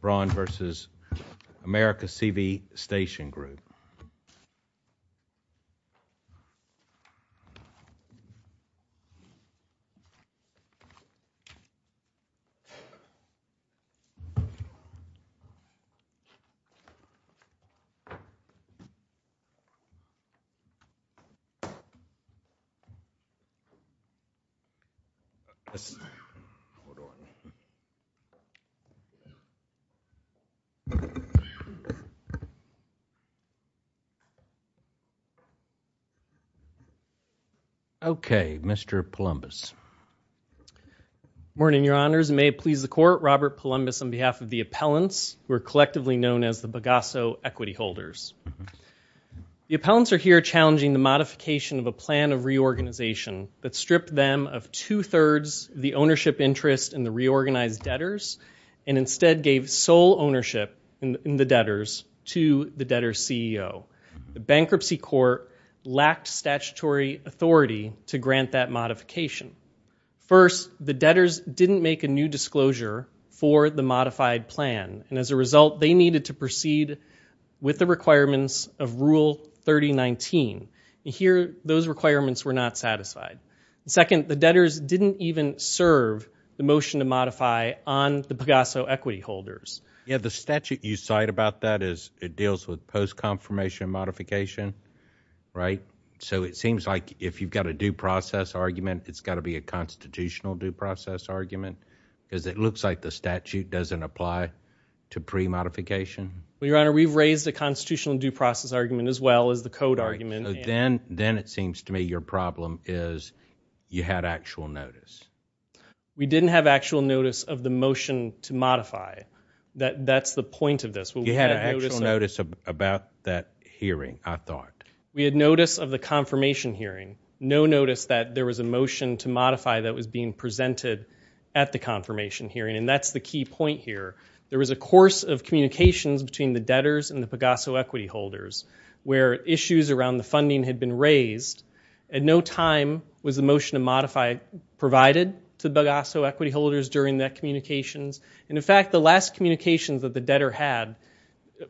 Braun v. America-CV Station Group. Okay, Mr. Palumbis. Good morning, Your Honors. It may please the Court, Robert Palumbis on behalf of the appellants, who are collectively known as the Bagasso Equity Holders. The appellants are here challenging the modification of a plan of reorganization that stripped them of two-thirds of the ownership interest in the reorganized debtors and instead gave sole ownership in the debtors to the debtor's CEO. The bankruptcy court lacked statutory authority to grant that modification. First, the debtors didn't make a new disclosure for the modified plan, and as a result they needed to proceed with the requirements of Rule 3019. Here, those requirements were not satisfied. Second, the debtors didn't even serve the motion to modify on the Bagasso Equity Holders. Yeah, the statute you cite about that is it deals with post-confirmation modification, right? So it seems like if you've got a due process argument, it's got to be a constitutional due process argument because it looks like the statute doesn't apply to pre-modification. Well, Your Honor, we've raised a constitutional due process argument as well as the code argument. Then it seems to me your problem is you had actual notice. We didn't have actual notice of the motion to modify. That's the point of this. You had actual notice about that hearing, I thought. We had notice of the confirmation hearing, no notice that there was a motion to modify that was being presented at the confirmation hearing, and that's the key point here. There was a course of communications between the debtors and the Bagasso Equity Holders where issues around the funding had been raised. At no time was the motion to modify provided to the Bagasso Equity Holders during that communications. In fact, the last communications that the debtor had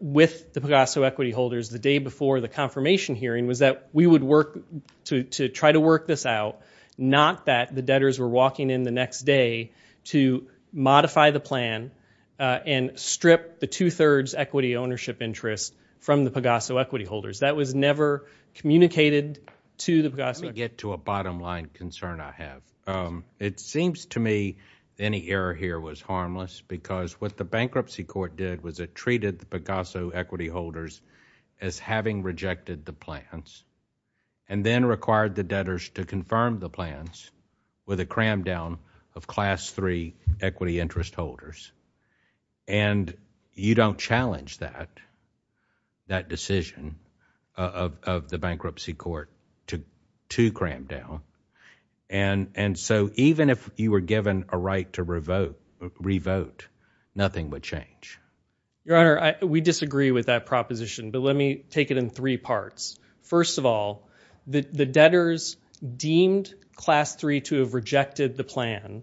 with the Bagasso Equity Holders the day before the confirmation hearing was that we would work to try to work this out, not that the debtors were walking in the next day to modify the plan and strip the two-thirds equity ownership interest from the Bagasso Equity Holders. That was never communicated to the Bagasso Equity Holders. Let me get to a bottom line concern I have. It seems to me any error here was harmless because what the bankruptcy court did was it treated the Bagasso Equity Holders as having rejected the plans and then required the debtors to confirm the plans with a cram down of Class III equity interest holders. And you don't challenge that, that decision of the bankruptcy court to cram down. And so even if you were given a right to revote, nothing would change. Your Honor, we disagree with that proposition, but let me take it in three parts. First of all, the debtors deemed Class III to have rejected the plan.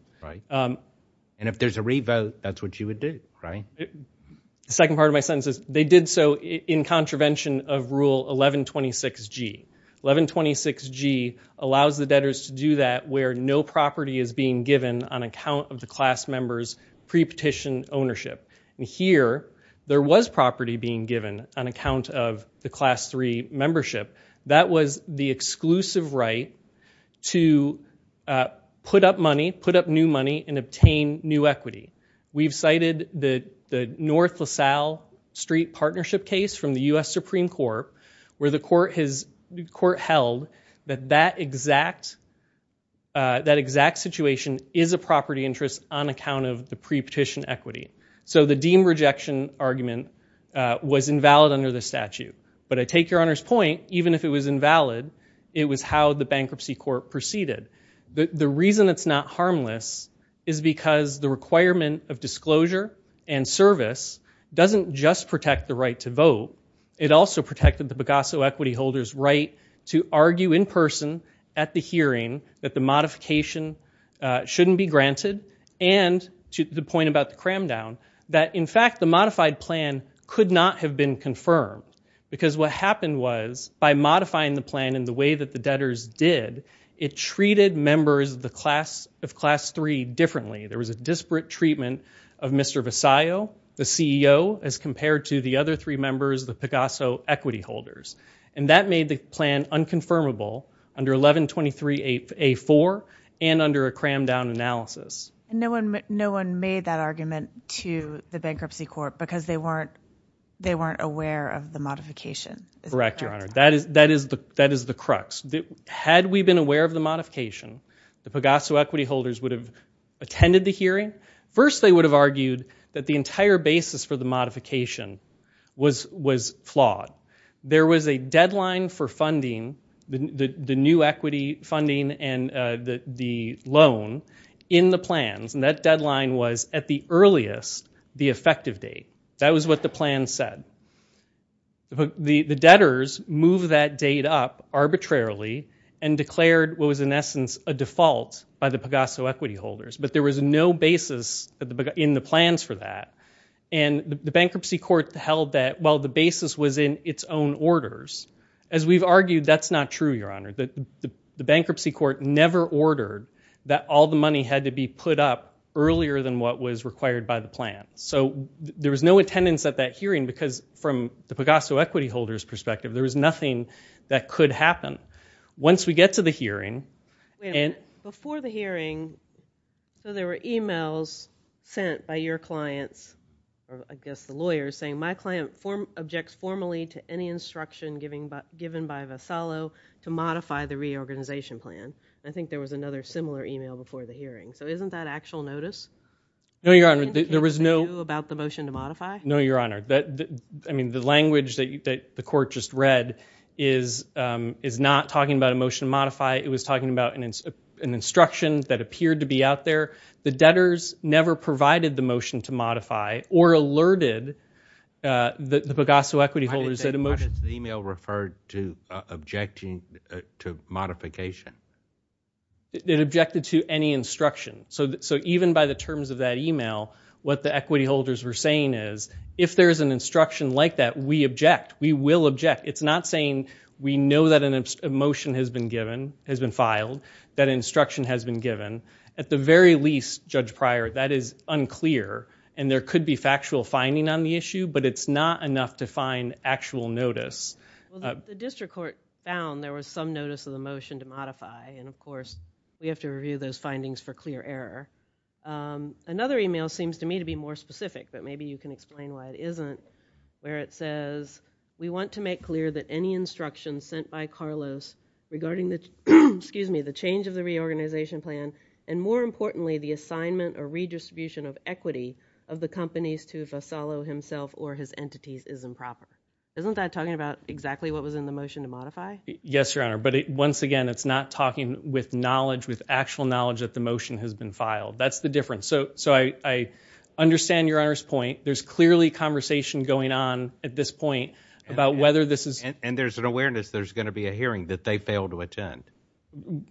And if there's a revote, that's what you would do, right? The second part of my sentence is they did so in contravention of Rule 1126G. 1126G allows the debtors to do that where no property is being given on account of the class members' pre-petition ownership. And here, there was property being given on account of the Class III membership. That was the exclusive right to put up money, put up new money, and obtain new equity. We've cited the North LaSalle Street Partnership case from the U.S. Supreme Court where the court held that that exact situation is a property interest on account of the pre-petition equity. So the deemed rejection argument was invalid under the statute. But I take Your Honor's point, even if it was invalid, it was how the bankruptcy court proceeded. The reason it's not harmless is because the requirement of disclosure and service doesn't just protect the right to vote. It also protected the Pagasso equity holder's right to argue in person at the hearing that the modification shouldn't be granted and, to the point about the cram-down, that in fact the modified plan could not have been confirmed. Because what happened was, by modifying the plan in the way that the debtors did, it treated members of Class III differently. There was a disparate treatment of Mr. Visayo, the CEO, as compared to the other three members, the Pagasso equity holders. And that made the plan unconfirmable under 1123A4 and under a cram-down analysis. No one made that argument to the bankruptcy court because they weren't aware of the modification. Correct, Your Honor. That is the crux. Had we been aware of the modification, the Pagasso equity holders would have attended the hearing. First they would have argued that the entire basis for the modification was flawed. There was a deadline for funding, the new equity funding and the loan, in the plans. And that deadline was, at the earliest, the effective date. That was what the plan said. The debtors moved that date up arbitrarily and declared what was, in essence, a default by the Pagasso equity holders. But there was no basis in the plans for that. And the bankruptcy court held that, well, the basis was in its own orders. As we've argued, that's not true, Your Honor. The bankruptcy court never ordered that all the money had to be put up earlier than what was required by the plan. So there was no attendance at that hearing because, from the Pagasso equity holders' perspective, there was nothing that could happen. Once we get to the hearing... Before the hearing, there were e-mails sent by your clients, I guess the lawyers, saying, my client objects formally to any instruction given by Vassallo to modify the reorganization plan. I think there was another similar e-mail before the hearing. So isn't that actual notice? No, Your Honor. There was no... About the motion to modify? No, Your Honor. I mean, the language that the court just read is not talking about a motion to modify. It was talking about an instruction that appeared to be out there. The debtors never provided the motion to modify or alerted the Pagasso equity holders that a motion... Why does the e-mail refer to objecting to modification? It objected to any instruction. So even by the terms of that e-mail, what the equity holders were saying is, if there is an instruction like that, we object. We will object. It's not saying we know that a motion has been given, has been filed, that instruction has been given. At the very least, Judge Pryor, that is unclear, and there could be factual finding on the issue, but it's not enough to find actual notice. And, of course, we have to review those findings for clear error. Another e-mail seems to me to be more specific, but maybe you can explain why it isn't, where it says, we want to make clear that any instruction sent by Carlos regarding the change of the reorganization plan and, more importantly, the assignment or redistribution of equity of the companies to Vassallo himself or his entities is improper. Isn't that talking about exactly what was in the motion to modify? Yes, Your Honor. But, once again, it's not talking with knowledge, with actual knowledge that the motion has been filed. That's the difference. So I understand Your Honor's point. There's clearly conversation going on at this point about whether this is... And there's an awareness there's going to be a hearing that they failed to attend.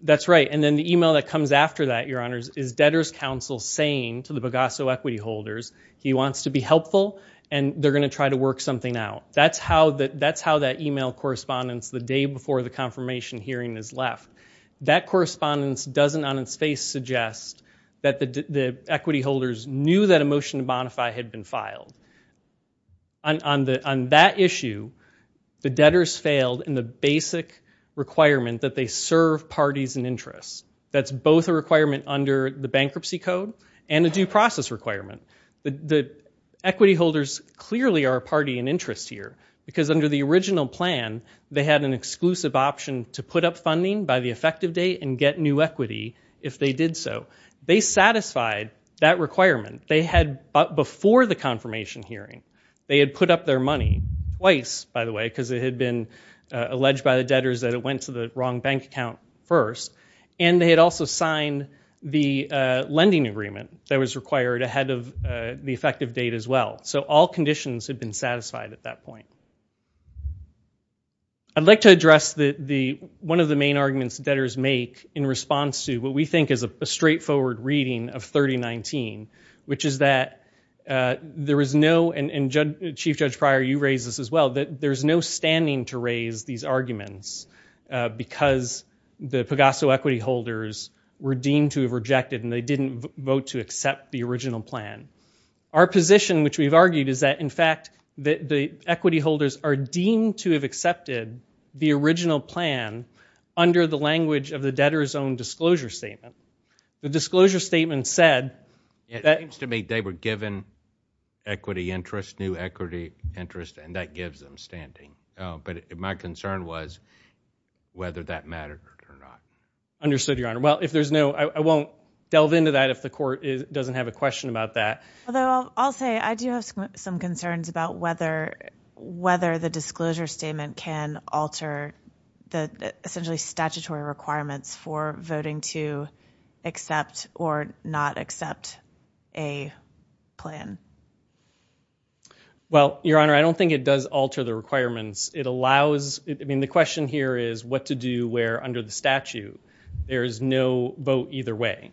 That's right. And then the e-mail that comes after that, Your Honors, is debtors' counsel saying to the Pagasso equity holders he wants to be helpful and they're going to try to work something out. That's how that e-mail correspondence the day before the confirmation hearing is left. That correspondence doesn't on its face suggest that the equity holders knew that a motion to modify had been filed. On that issue, the debtors failed in the basic requirement that they serve parties and interests. That's both a requirement under the bankruptcy code and a due process requirement. The equity holders clearly are a party and interest here because, under the original plan, they had an exclusive option to put up funding by the effective date and get new equity if they did so. They satisfied that requirement. They had, before the confirmation hearing, they had put up their money twice, by the way, because it had been alleged by the debtors that it went to the wrong bank account first, and they had also signed the lending agreement that was required ahead of the effective date as well. So all conditions had been satisfied at that point. I'd like to address one of the main arguments debtors make in response to what we think is a straightforward reading of 3019, which is that there is no, and Chief Judge Pryor, you raised this as well, that there's no standing to raise these arguments because the Pagasso equity holders were deemed to have rejected and they didn't vote to accept the original plan. Our position, which we've argued, is that, in fact, the equity holders are deemed to have accepted the original plan under the language of the debtor's own disclosure statement. The disclosure statement said that... But my concern was whether that mattered or not. Understood, Your Honor. Well, if there's no, I won't delve into that if the court doesn't have a question about that. Although I'll say I do have some concerns about whether the disclosure statement can alter the, essentially, statutory requirements for voting to accept or not accept a plan. Well, Your Honor, I don't think it does alter the requirements. It allows, I mean, the question here is what to do where, under the statute, there is no vote either way.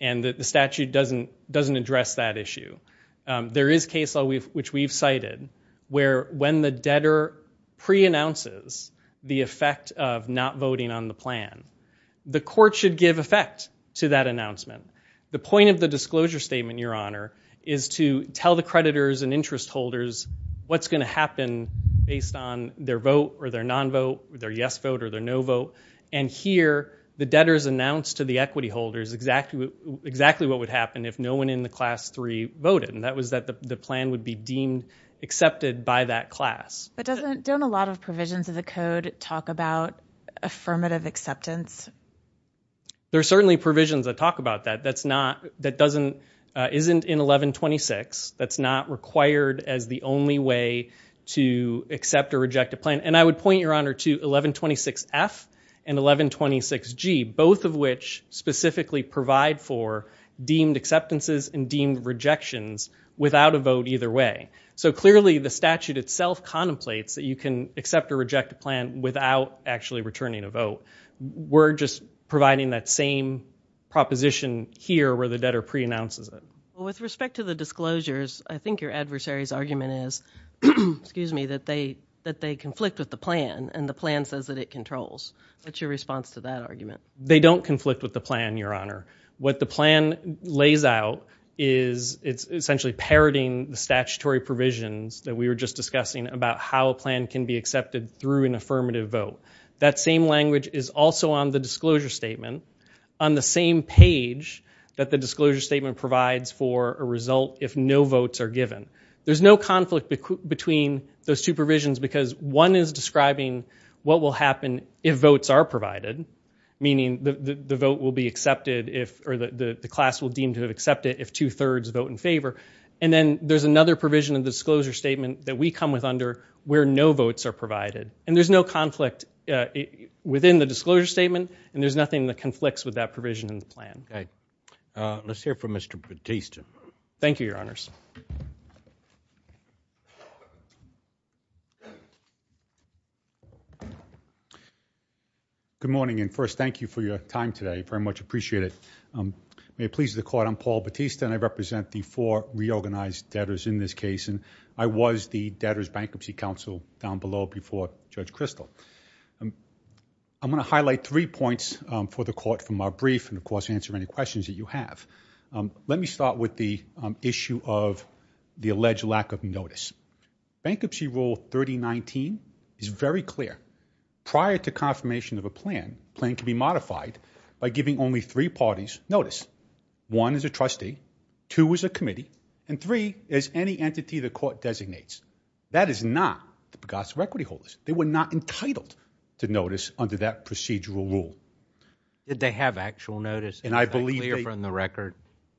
And the statute doesn't address that issue. There is case law, which we've cited, where when the debtor pre-announces the effect of not voting on the plan, the court should give effect to that announcement. The point of the disclosure statement, Your Honor, is to tell the creditors and interest holders what's going to happen based on their vote or their non-vote, their yes vote or their no vote. And here, the debtors announced to the equity holders exactly what would happen if no one in the Class 3 voted, and that was that the plan would be deemed accepted by that class. But don't a lot of provisions of the Code talk about affirmative acceptance? There are certainly provisions that talk about that. That's not, that doesn't, isn't in 1126. That's not required as the only way to accept or reject a plan. And I would point, Your Honor, to 1126F and 1126G, both of which specifically provide for deemed acceptances and deemed rejections without a vote either way. So, clearly, the statute itself contemplates that you can accept or reject a plan without actually returning a vote. We're just providing that same proposition here where the debtor preannounces it. With respect to the disclosures, I think your adversary's argument is, excuse me, that they conflict with the plan, and the plan says that it controls. What's your response to that argument? They don't conflict with the plan, Your Honor. What the plan lays out is it's essentially parroting the statutory provisions that we were just discussing about how a plan can be accepted through an affirmative vote. That same language is also on the disclosure statement, on the same page that the disclosure statement provides for a result if no votes are given. There's no conflict between those two provisions because one is describing what will happen if votes are provided, meaning the vote will be accepted if, or the class will deem to have accepted if two-thirds vote in favor. And then there's another provision in the disclosure statement that we come with under where no votes are provided. And there's no conflict within the disclosure statement, and there's nothing that conflicts with that provision in the plan. Okay. Let's hear from Mr. Batista. Thank you, Your Honors. Good morning, and first, thank you for your time today. I very much appreciate it. May it please the Court, I'm Paul Batista, and I represent the four reorganized debtors in this case, and I was the Debtors Bankruptcy Counsel down below before Judge Kristol. I'm going to highlight three points for the Court from our brief and, of course, answer any questions that you have. Let me start with the issue of the alleged lack of notice. Bankruptcy Rule 3019 is very clear. Prior to confirmation of a plan, a plan can be modified by giving only three parties notice. One is a trustee, two is a committee, and three is any entity the Court designates. That is not the Pegasus Equity Holders. They were not entitled to notice under that procedural rule. Did they have actual notice? And is that clear from the record?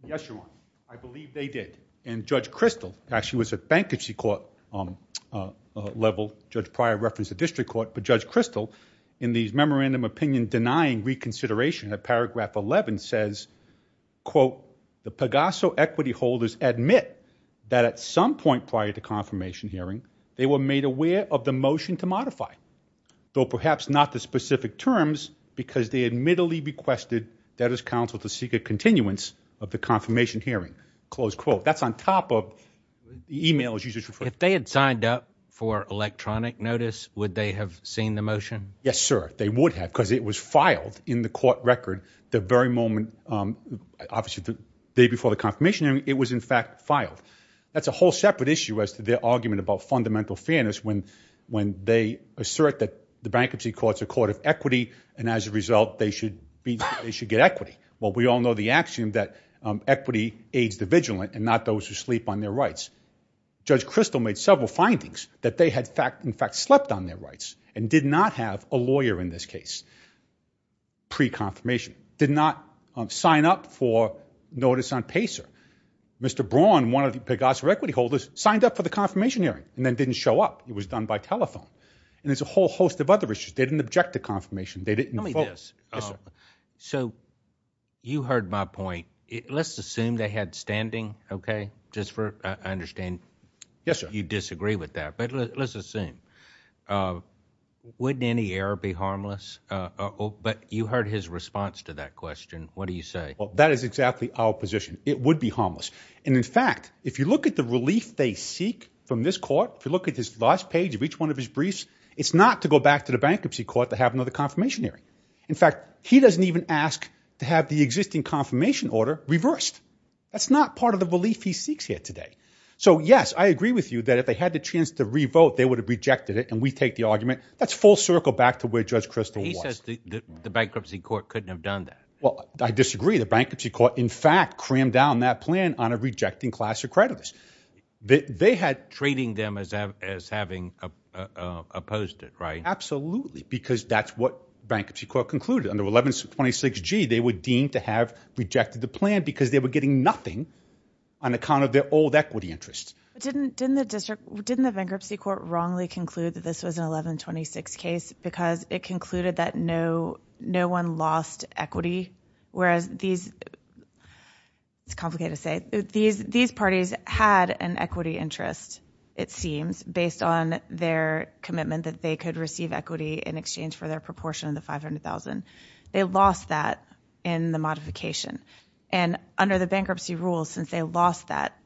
Yes, Your Honor. I believe they did. And Judge Kristol actually was at Bankruptcy Court level. Judge Prior referenced the District Court. But Judge Kristol, in the memorandum opinion denying reconsideration of Paragraph 11, says, quote, the Pegasus Equity Holders admit that at some point prior to confirmation hearing, they were made aware of the motion to modify, though perhaps not the specific terms, because they admittedly requested debtors' counsel to seek a continuance of the confirmation hearing. Close quote. That's on top of the e-mail, as you just referred to. If they had signed up for electronic notice, would they have seen the motion? Yes, sir. They would have, because it was filed in the court record the very moment, obviously the day before the confirmation hearing, it was in fact filed. That's a whole separate issue as to their argument about fundamental fairness when they assert that the bankruptcy courts are court of equity, and as a result, they should get equity. Well, we all know the axiom that equity aids the vigilant and not those who sleep on their rights. Judge Kristol made several findings that they had in fact slept on their rights and did not have a lawyer in this case pre-confirmation, did not sign up for notice on PACER. Mr. Braun, one of the Pegasus Equity Holders, signed up for the confirmation hearing and then didn't show up. It was done by telephone. And there's a whole host of other issues. They didn't object to confirmation. They didn't vote. Tell me this. Yes, sir. So you heard my point. Let's assume they had standing, okay, just for understanding. Yes, sir. You disagree with that, but let's assume. Wouldn't any error be harmless? But you heard his response to that question. What do you say? Well, that is exactly our position. It would be harmless. And in fact, if you look at the relief they seek from this court, if you look at this last page of each one of his briefs, it's not to go back to the bankruptcy court to have another confirmation hearing. In fact, he doesn't even ask to have the existing confirmation order reversed. That's not part of the relief he seeks here today. So, yes, I agree with you that if they had the chance to re-vote, they would have rejected it and we take the argument. That's full circle back to where Judge Kristol was. He says the bankruptcy court couldn't have done that. Well, I disagree. The bankruptcy court, in fact, crammed down that plan on a rejecting class of creditors. They had treating them as having opposed it, right? Absolutely, because that's what bankruptcy court concluded. Under 1126G, they were deemed to have rejected the plan because they were getting nothing on account of their old equity interest. Didn't the district, didn't the bankruptcy court wrongly conclude that this was an 1126 case because it concluded that no one lost equity, whereas these, it's complicated to say, these parties had an equity interest, it seems, based on their commitment that they could receive equity in exchange for their proportion of the $500,000. They lost that in the modification. And under the bankruptcy rules, since they lost that,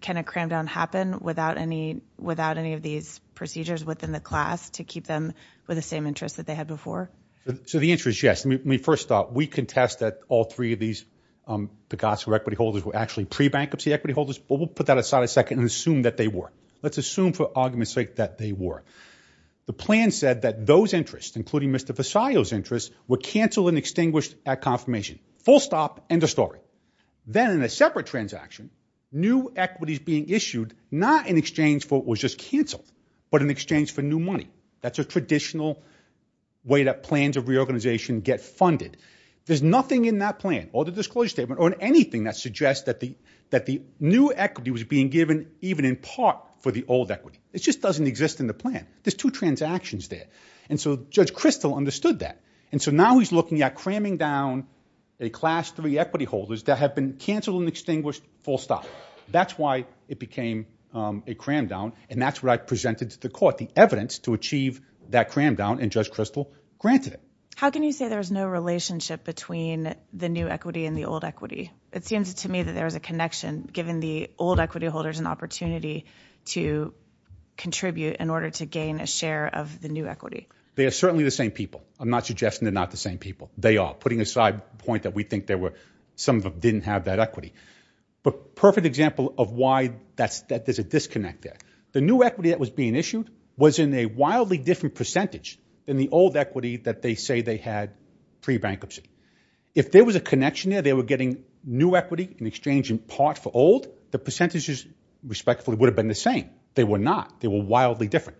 can a cram-down happen without any of these procedures within the class to keep them with the same interest that they had before? So the answer is yes. I mean, first off, we contest that all three of these Pegasco equity holders were actually pre-bankruptcy equity holders, but we'll put that aside a second and assume that they were. Let's assume for argument's sake that they were. The plan said that those interests, including Mr. Visayo's interests, were canceled and extinguished at confirmation. Full stop, end of story. Then in a separate transaction, new equity is being issued, not in exchange for what was just canceled, but in exchange for new money. That's a traditional way that plans of reorganization get funded. There's nothing in that plan or the disclosure statement or in anything that suggests that the new equity was being given even in part for the old equity. It just doesn't exist in the plan. There's two transactions there. And so Judge Kristol understood that. And so now he's looking at cramming down a class three equity holders that have been canceled and extinguished full stop. That's why it became a cram-down, and that's what I presented to the court, the evidence to achieve that cram-down, and Judge Kristol granted it. How can you say there's no relationship between the new equity and the old equity? It seems to me that there is a connection, giving the old equity holders an opportunity to contribute in order to gain a share of the new equity. They are certainly the same people. I'm not suggesting they're not the same people. They are, putting aside the point that we think some of them didn't have that equity. But perfect example of why there's a disconnect there. The new equity that was being issued was in a wildly different percentage than the old equity that they say they had pre-bankruptcy. If there was a connection there, they were getting new equity in exchange in part for old, the percentages respectfully would have been the same. They were not. They were wildly different.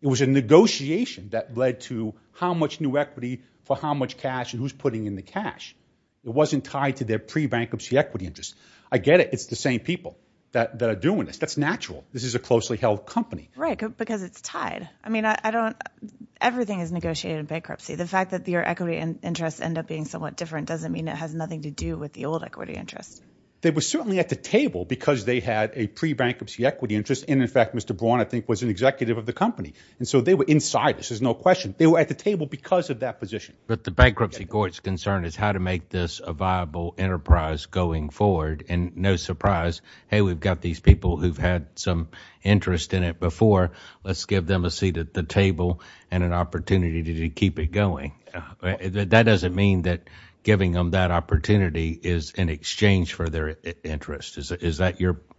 It was a negotiation that led to how much new equity for how much cash and who's putting in the cash. It wasn't tied to their pre-bankruptcy equity interest. I get it. It's the same people that are doing this. That's natural. This is a closely held company. Right, because it's tied. I mean, I don't – everything is negotiated in bankruptcy. The fact that your equity interests end up being somewhat different doesn't mean it has nothing to do with the old equity interest. They were certainly at the table because they had a pre-bankruptcy equity interest. And, in fact, Mr. Braun, I think, was an executive of the company. And so they were inside. This is no question. They were at the table because of that position. But the bankruptcy court's concern is how to make this a viable enterprise going forward. And no surprise, hey, we've got these people who've had some interest in it before. Let's give them a seat at the table and an opportunity to keep it going. That doesn't mean that giving them that opportunity is in exchange for their interest. Is that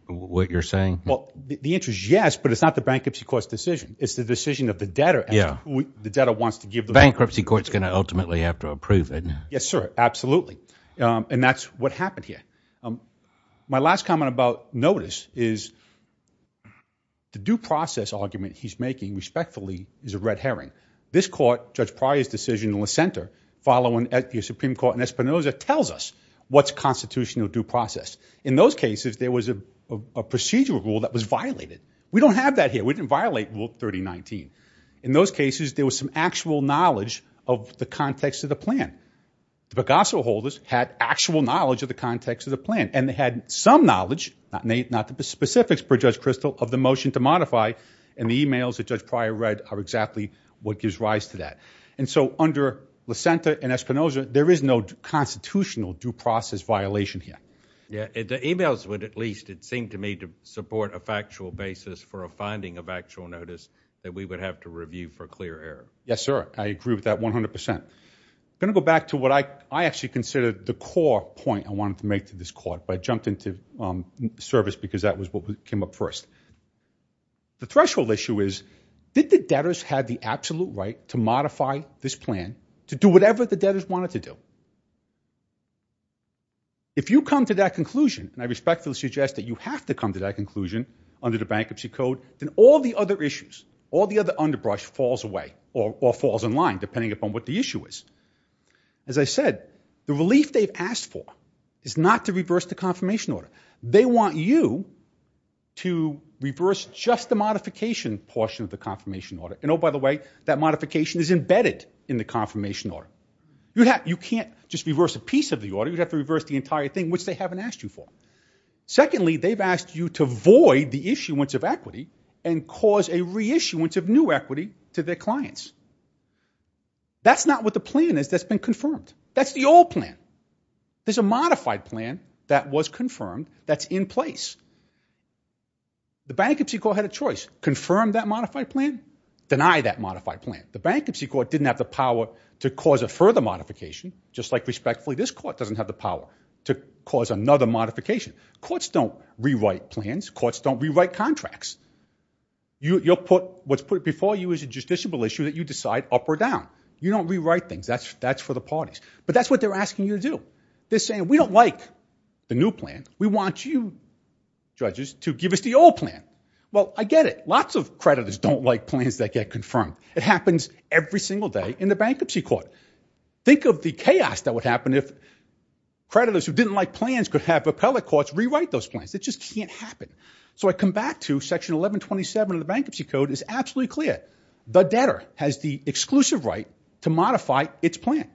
what you're saying? Well, the answer is yes, but it's not the bankruptcy court's decision. It's the decision of the debtor as to who the debtor wants to give the money. Bankruptcy court's going to ultimately have to approve it. Yes, sir, absolutely. And that's what happened here. My last comment about notice is the due process argument he's making, respectfully, is a red herring. This court, Judge Pryor's decision in the center following the Supreme Court in Espinoza, tells us what's constitutional due process. In those cases, there was a procedural rule that was violated. We don't have that here. We didn't violate Rule 3019. In those cases, there was some actual knowledge of the context of the plan. The Picasso holders had actual knowledge of the context of the plan, and they had some knowledge, not the specifics per Judge Kristol, of the motion to modify, and the e-mails that Judge Pryor read are exactly what gives rise to that. And so under LaSenta and Espinoza, there is no constitutional due process violation here. Yeah, the e-mails would at least, it seemed to me, to support a factual basis for a finding of actual notice that we would have to review for clear error. Yes, sir, I agree with that 100%. I'm going to go back to what I actually consider the core point I wanted to make to this court, but I jumped into service because that was what came up first. The threshold issue is, did the debtors have the absolute right to modify this plan to do whatever the debtors wanted to do? If you come to that conclusion, and I respectfully suggest that you have to come to that conclusion under the Bankruptcy Code, then all the other issues, all the other underbrush falls away or falls in line, depending upon what the issue is. As I said, the relief they've asked for is not to reverse the confirmation order. They want you to reverse just the modification portion of the confirmation order. And oh, by the way, that modification is embedded in the confirmation order. You can't just reverse a piece of the order. You'd have to reverse the entire thing, which they haven't asked you for. Secondly, they've asked you to void the issuance of equity and cause a reissuance of new equity to their clients. That's not what the plan is that's been confirmed. That's the old plan. There's a modified plan that was confirmed that's in place. The Bankruptcy Court had a choice, confirm that modified plan, deny that modified plan. The Bankruptcy Court didn't have the power to cause a further modification, just like respectfully this court doesn't have the power to cause another modification. Courts don't rewrite plans. Courts don't rewrite contracts. What's put before you is a justiciable issue that you decide up or down. You don't rewrite things. That's for the parties. But that's what they're asking you to do. They're saying, we don't like the new plan. We want you, judges, to give us the old plan. Well, I get it. Lots of creditors don't like plans that get confirmed. It happens every single day in the Bankruptcy Court. Think of the chaos that would happen if creditors who didn't like plans could have appellate courts rewrite those plans. It just can't happen. So I come back to Section 1127 of the Bankruptcy Code is absolutely clear. The debtor has the exclusive right to modify its plan,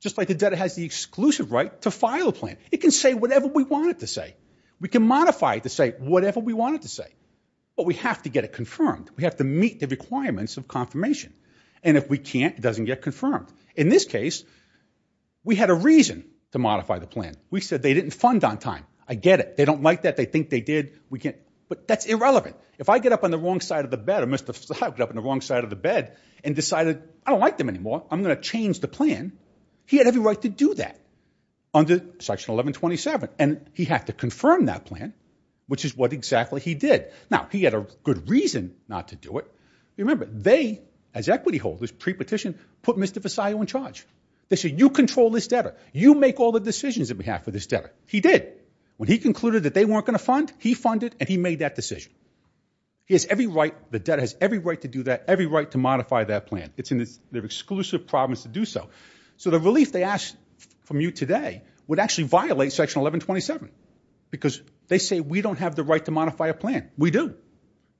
just like the debtor has the exclusive right to file a plan. It can say whatever we want it to say. We can modify it to say whatever we want it to say. But we have to get it confirmed. We have to meet the requirements of confirmation. And if we can't, it doesn't get confirmed. In this case, we had a reason to modify the plan. We said they didn't fund on time. I get it. They don't like that. They think they did. We can't. But that's irrelevant. If I get up on the wrong side of the bed or Mr. Versailles got up on the wrong side of the bed and decided, I don't like them anymore, I'm going to change the plan, he had every right to do that under Section 1127. And he had to confirm that plan, which is what exactly he did. Now, he had a good reason not to do it. Remember, they, as equity holders, pre-petitioned, put Mr. Versailles on charge. They said, you control this debtor. You make all the decisions on behalf of this debtor. He did. When he concluded that they weren't going to fund, he funded, and he made that decision. He has every right, the debtor has every right to do that, every right to modify that plan. It's in their exclusive province to do so. So the relief they asked from you today would actually violate Section 1127 because they say we don't have the right to modify a plan. We do.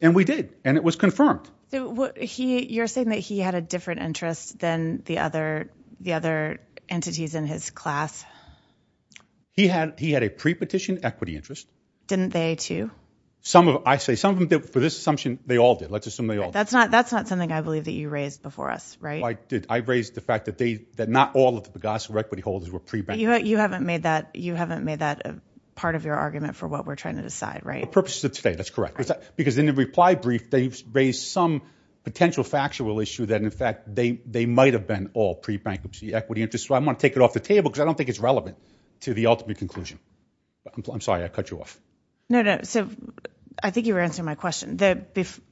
And we did. And it was confirmed. You're saying that he had a different interest than the other entities in his class? He had a pre-petition equity interest. Didn't they, too? I say some of them did. For this assumption, they all did. Let's assume they all did. That's not something I believe that you raised before us, right? I did. I raised the fact that not all of the Pegaso equity holders were pre-bankers. You haven't made that part of your argument for what we're trying to decide, right? For purposes of today, that's correct. Because in the reply brief, they've raised some potential factual issue that, in fact, they might have been all pre-bankers of the equity interest. So I'm going to take it off the table because I don't think it's relevant to the ultimate conclusion. I'm sorry. I cut you off. No, no. So I think you were answering my question.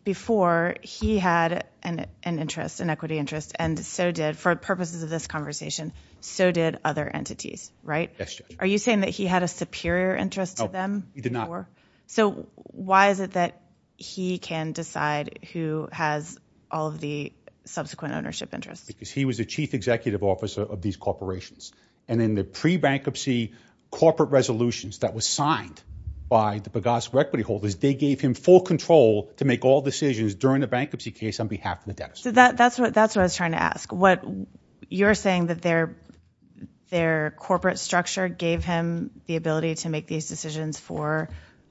Before, he had an interest, an equity interest, and so did, for purposes of this conversation, so did other entities, right? Yes, Judge. Are you saying that he had a superior interest to them? No, he did not. So why is it that he can decide who has all of the subsequent ownership interests? Because he was the chief executive officer of these corporations. And in the pre-bankruptcy corporate resolutions that were signed by the Pegaso equity holders, they gave him full control to make all decisions during the bankruptcy case on behalf of the debtors. So that's what I was trying to ask. You're saying that their corporate structure gave him the ability to make these decisions for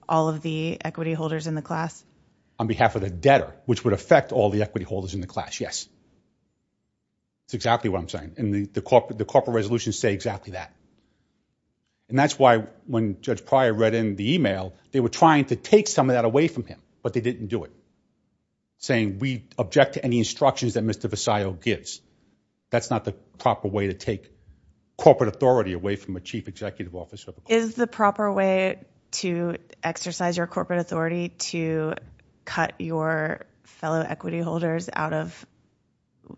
all of the equity holders in the class? On behalf of the debtor, which would affect all the equity holders in the class, yes. That's exactly what I'm saying. And the corporate resolutions say exactly that. And that's why when Judge Pryor read in the email, they were trying to take some of that away from him, but they didn't do it, saying we object to any instructions that Mr. Visayo gives. That's not the proper way to take corporate authority away from a chief executive officer. Is the proper way to exercise your corporate authority to cut your fellow equity holders out of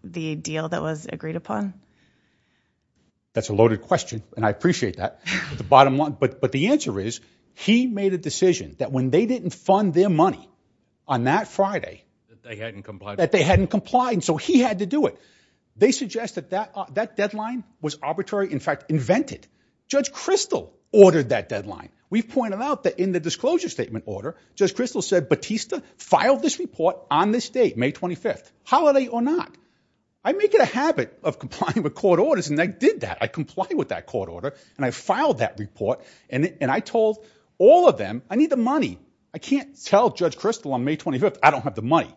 the deal that was agreed upon? That's a loaded question. And I appreciate that. The bottom line, but, but the answer is he made a decision that when they didn't fund their money on that Friday, that they hadn't complied that they hadn't complied. They suggest that that that deadline was arbitrary. In fact, invented Judge Crystal ordered that deadline. We've pointed out that in the disclosure statement order, Judge Crystal said, Batista filed this report on this date, May 25th holiday or not. I make it a habit of complying with court orders. And they did that. I comply with that court order and I filed that report. And I told all of them, I need the money. I can't tell Judge Crystal on May 25th. I don't have the money.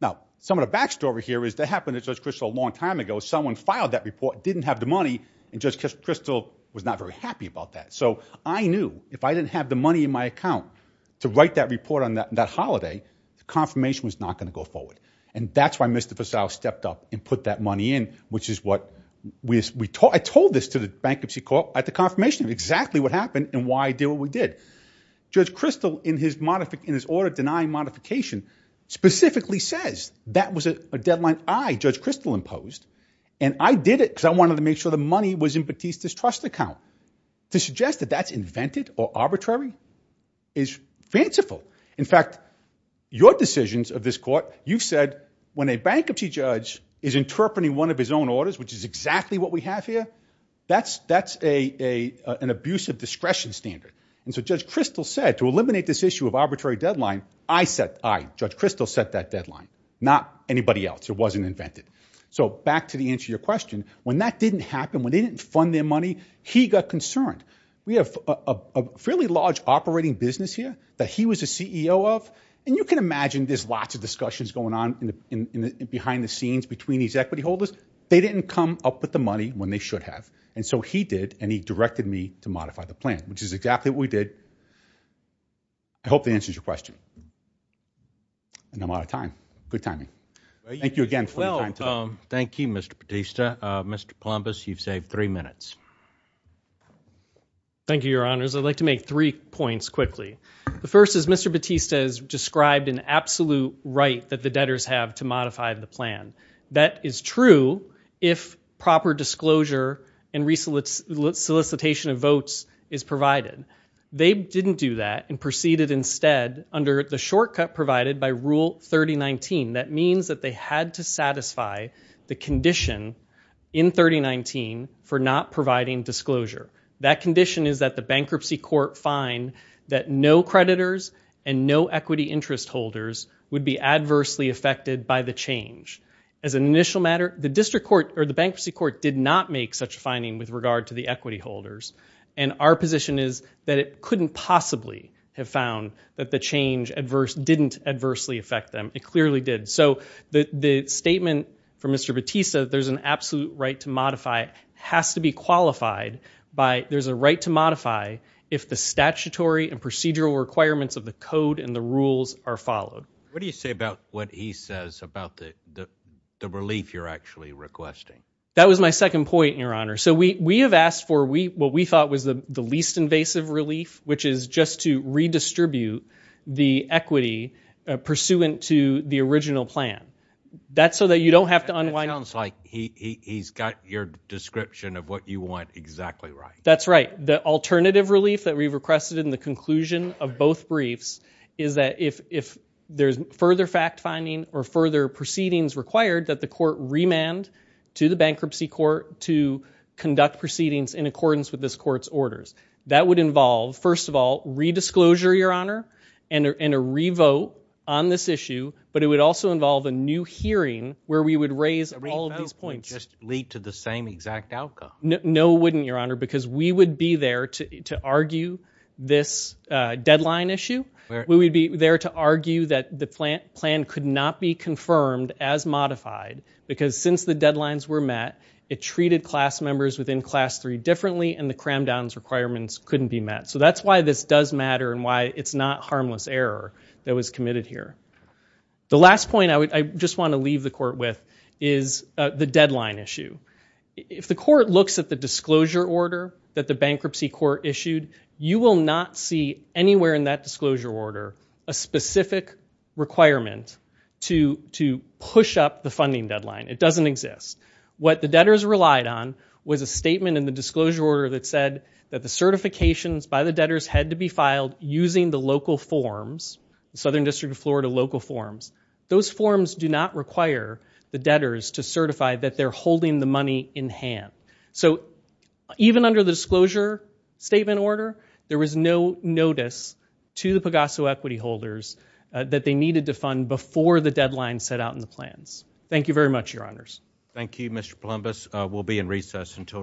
Now, some of the backstory here is that happened at Judge Crystal a long time ago. Someone filed that report, didn't have the money. And Judge Crystal was not very happy about that. So I knew if I didn't have the money in my account to write that report on that, that holiday, the confirmation was not going to go forward. And that's why Mr. Faisal stepped up and put that money in, which is what we, we taught, I told this to the bankruptcy court at the confirmation of exactly what happened and why I did what we did. Judge Crystal in his modific in his order denying modification specifically says that was a deadline. I Judge Crystal imposed and I did it because I wanted to make sure the money was in Batista's trust account to suggest that that's invented or arbitrary is fanciful. In fact, your decisions of this court, you've said when a bankruptcy judge is interpreting one of his own orders, which is exactly what we have here, that's, that's a, a, an abusive discretion standard. And so Judge Crystal said to eliminate this issue of arbitrary deadline, I set, I Judge Crystal set that deadline, not anybody else. It wasn't invented. So back to the answer, your question, when that didn't happen, when they didn't fund their money, he got concerned. We have a, a, a fairly large operating business here that he was a CEO of. And you can imagine there's lots of discussions going on in the, in the, in behind the scenes between these equity holders, they didn't come up with the money when they should have. And so he did. And he directed me to modify the plan, which is exactly what we did. I hope the answer is your question. And I'm out of time. Good timing. Thank you again. Well, thank you, Mr. Batista, Mr. Columbus, you've saved three minutes. Thank you, your honors. I'd like to make three points quickly. The first is Mr. Batista has described an absolute right that the debtors have to modify the plan. That is true. If proper disclosure and research solicitation of votes is provided, they didn't do that and proceeded instead under the shortcut provided by rule 3019. That means that they had to satisfy the condition in 3019 for not providing disclosure. That condition is that the bankruptcy court find that no creditors and no equity interest holders would be adversely affected by the change. As an initial matter, the district court or the bankruptcy court did not make such a finding with regard to the equity holders. And our position is that it couldn't possibly have found that the change adverse didn't adversely affect them. It clearly did. So the statement from Mr. Batista, there's an absolute right to modify has to be qualified by there's a right to modify if the statutory and procedural requirements of the code and the rules are followed. What do you say about what he says about the, the relief you're actually requesting? That was my second point, your honor. So we, we have asked for we, what we thought was the least invasive relief, which is just to redistribute the equity pursuant to the original plan. That's so that you don't have to unwind. It sounds like he he's got your description of what you want. Exactly right. That's right. The alternative relief that we've requested in the conclusion of both briefs is that if, if there's further fact finding or further proceedings required that the with this court's orders, that would involve first of all, redisclosure, your honor, and a, and a revote on this issue, but it would also involve a new hearing where we would raise all of these points lead to the same exact outcome. No, wouldn't your honor, because we would be there to, to argue this deadline issue where we would be there to argue that the plant plan could not be confirmed as modified because since the deadlines were met, it treated class members within class three differently. And the cram downs requirements couldn't be met. So that's why this does matter and why it's not harmless error that was committed here. The last point I would, I just want to leave the court with is the deadline issue. If the court looks at the disclosure order that the bankruptcy court issued, you will not see anywhere in that disclosure order, a specific requirement to, to push up the funding deadline. It doesn't exist. What the debtors relied on was a statement in the disclosure order that said that the certifications by the debtors had to be filed using the local forms, the Southern district of Florida, local forms. Those forms do not require the debtors to certify that they're holding the money in hand. So even under the disclosure statement order, there was no notice to the Pegaso equity holders that they needed to fund before the deadline set out in the plans. Thank you very much, your honors. Thank you, Mr. Columbus. We'll be in recess until tomorrow.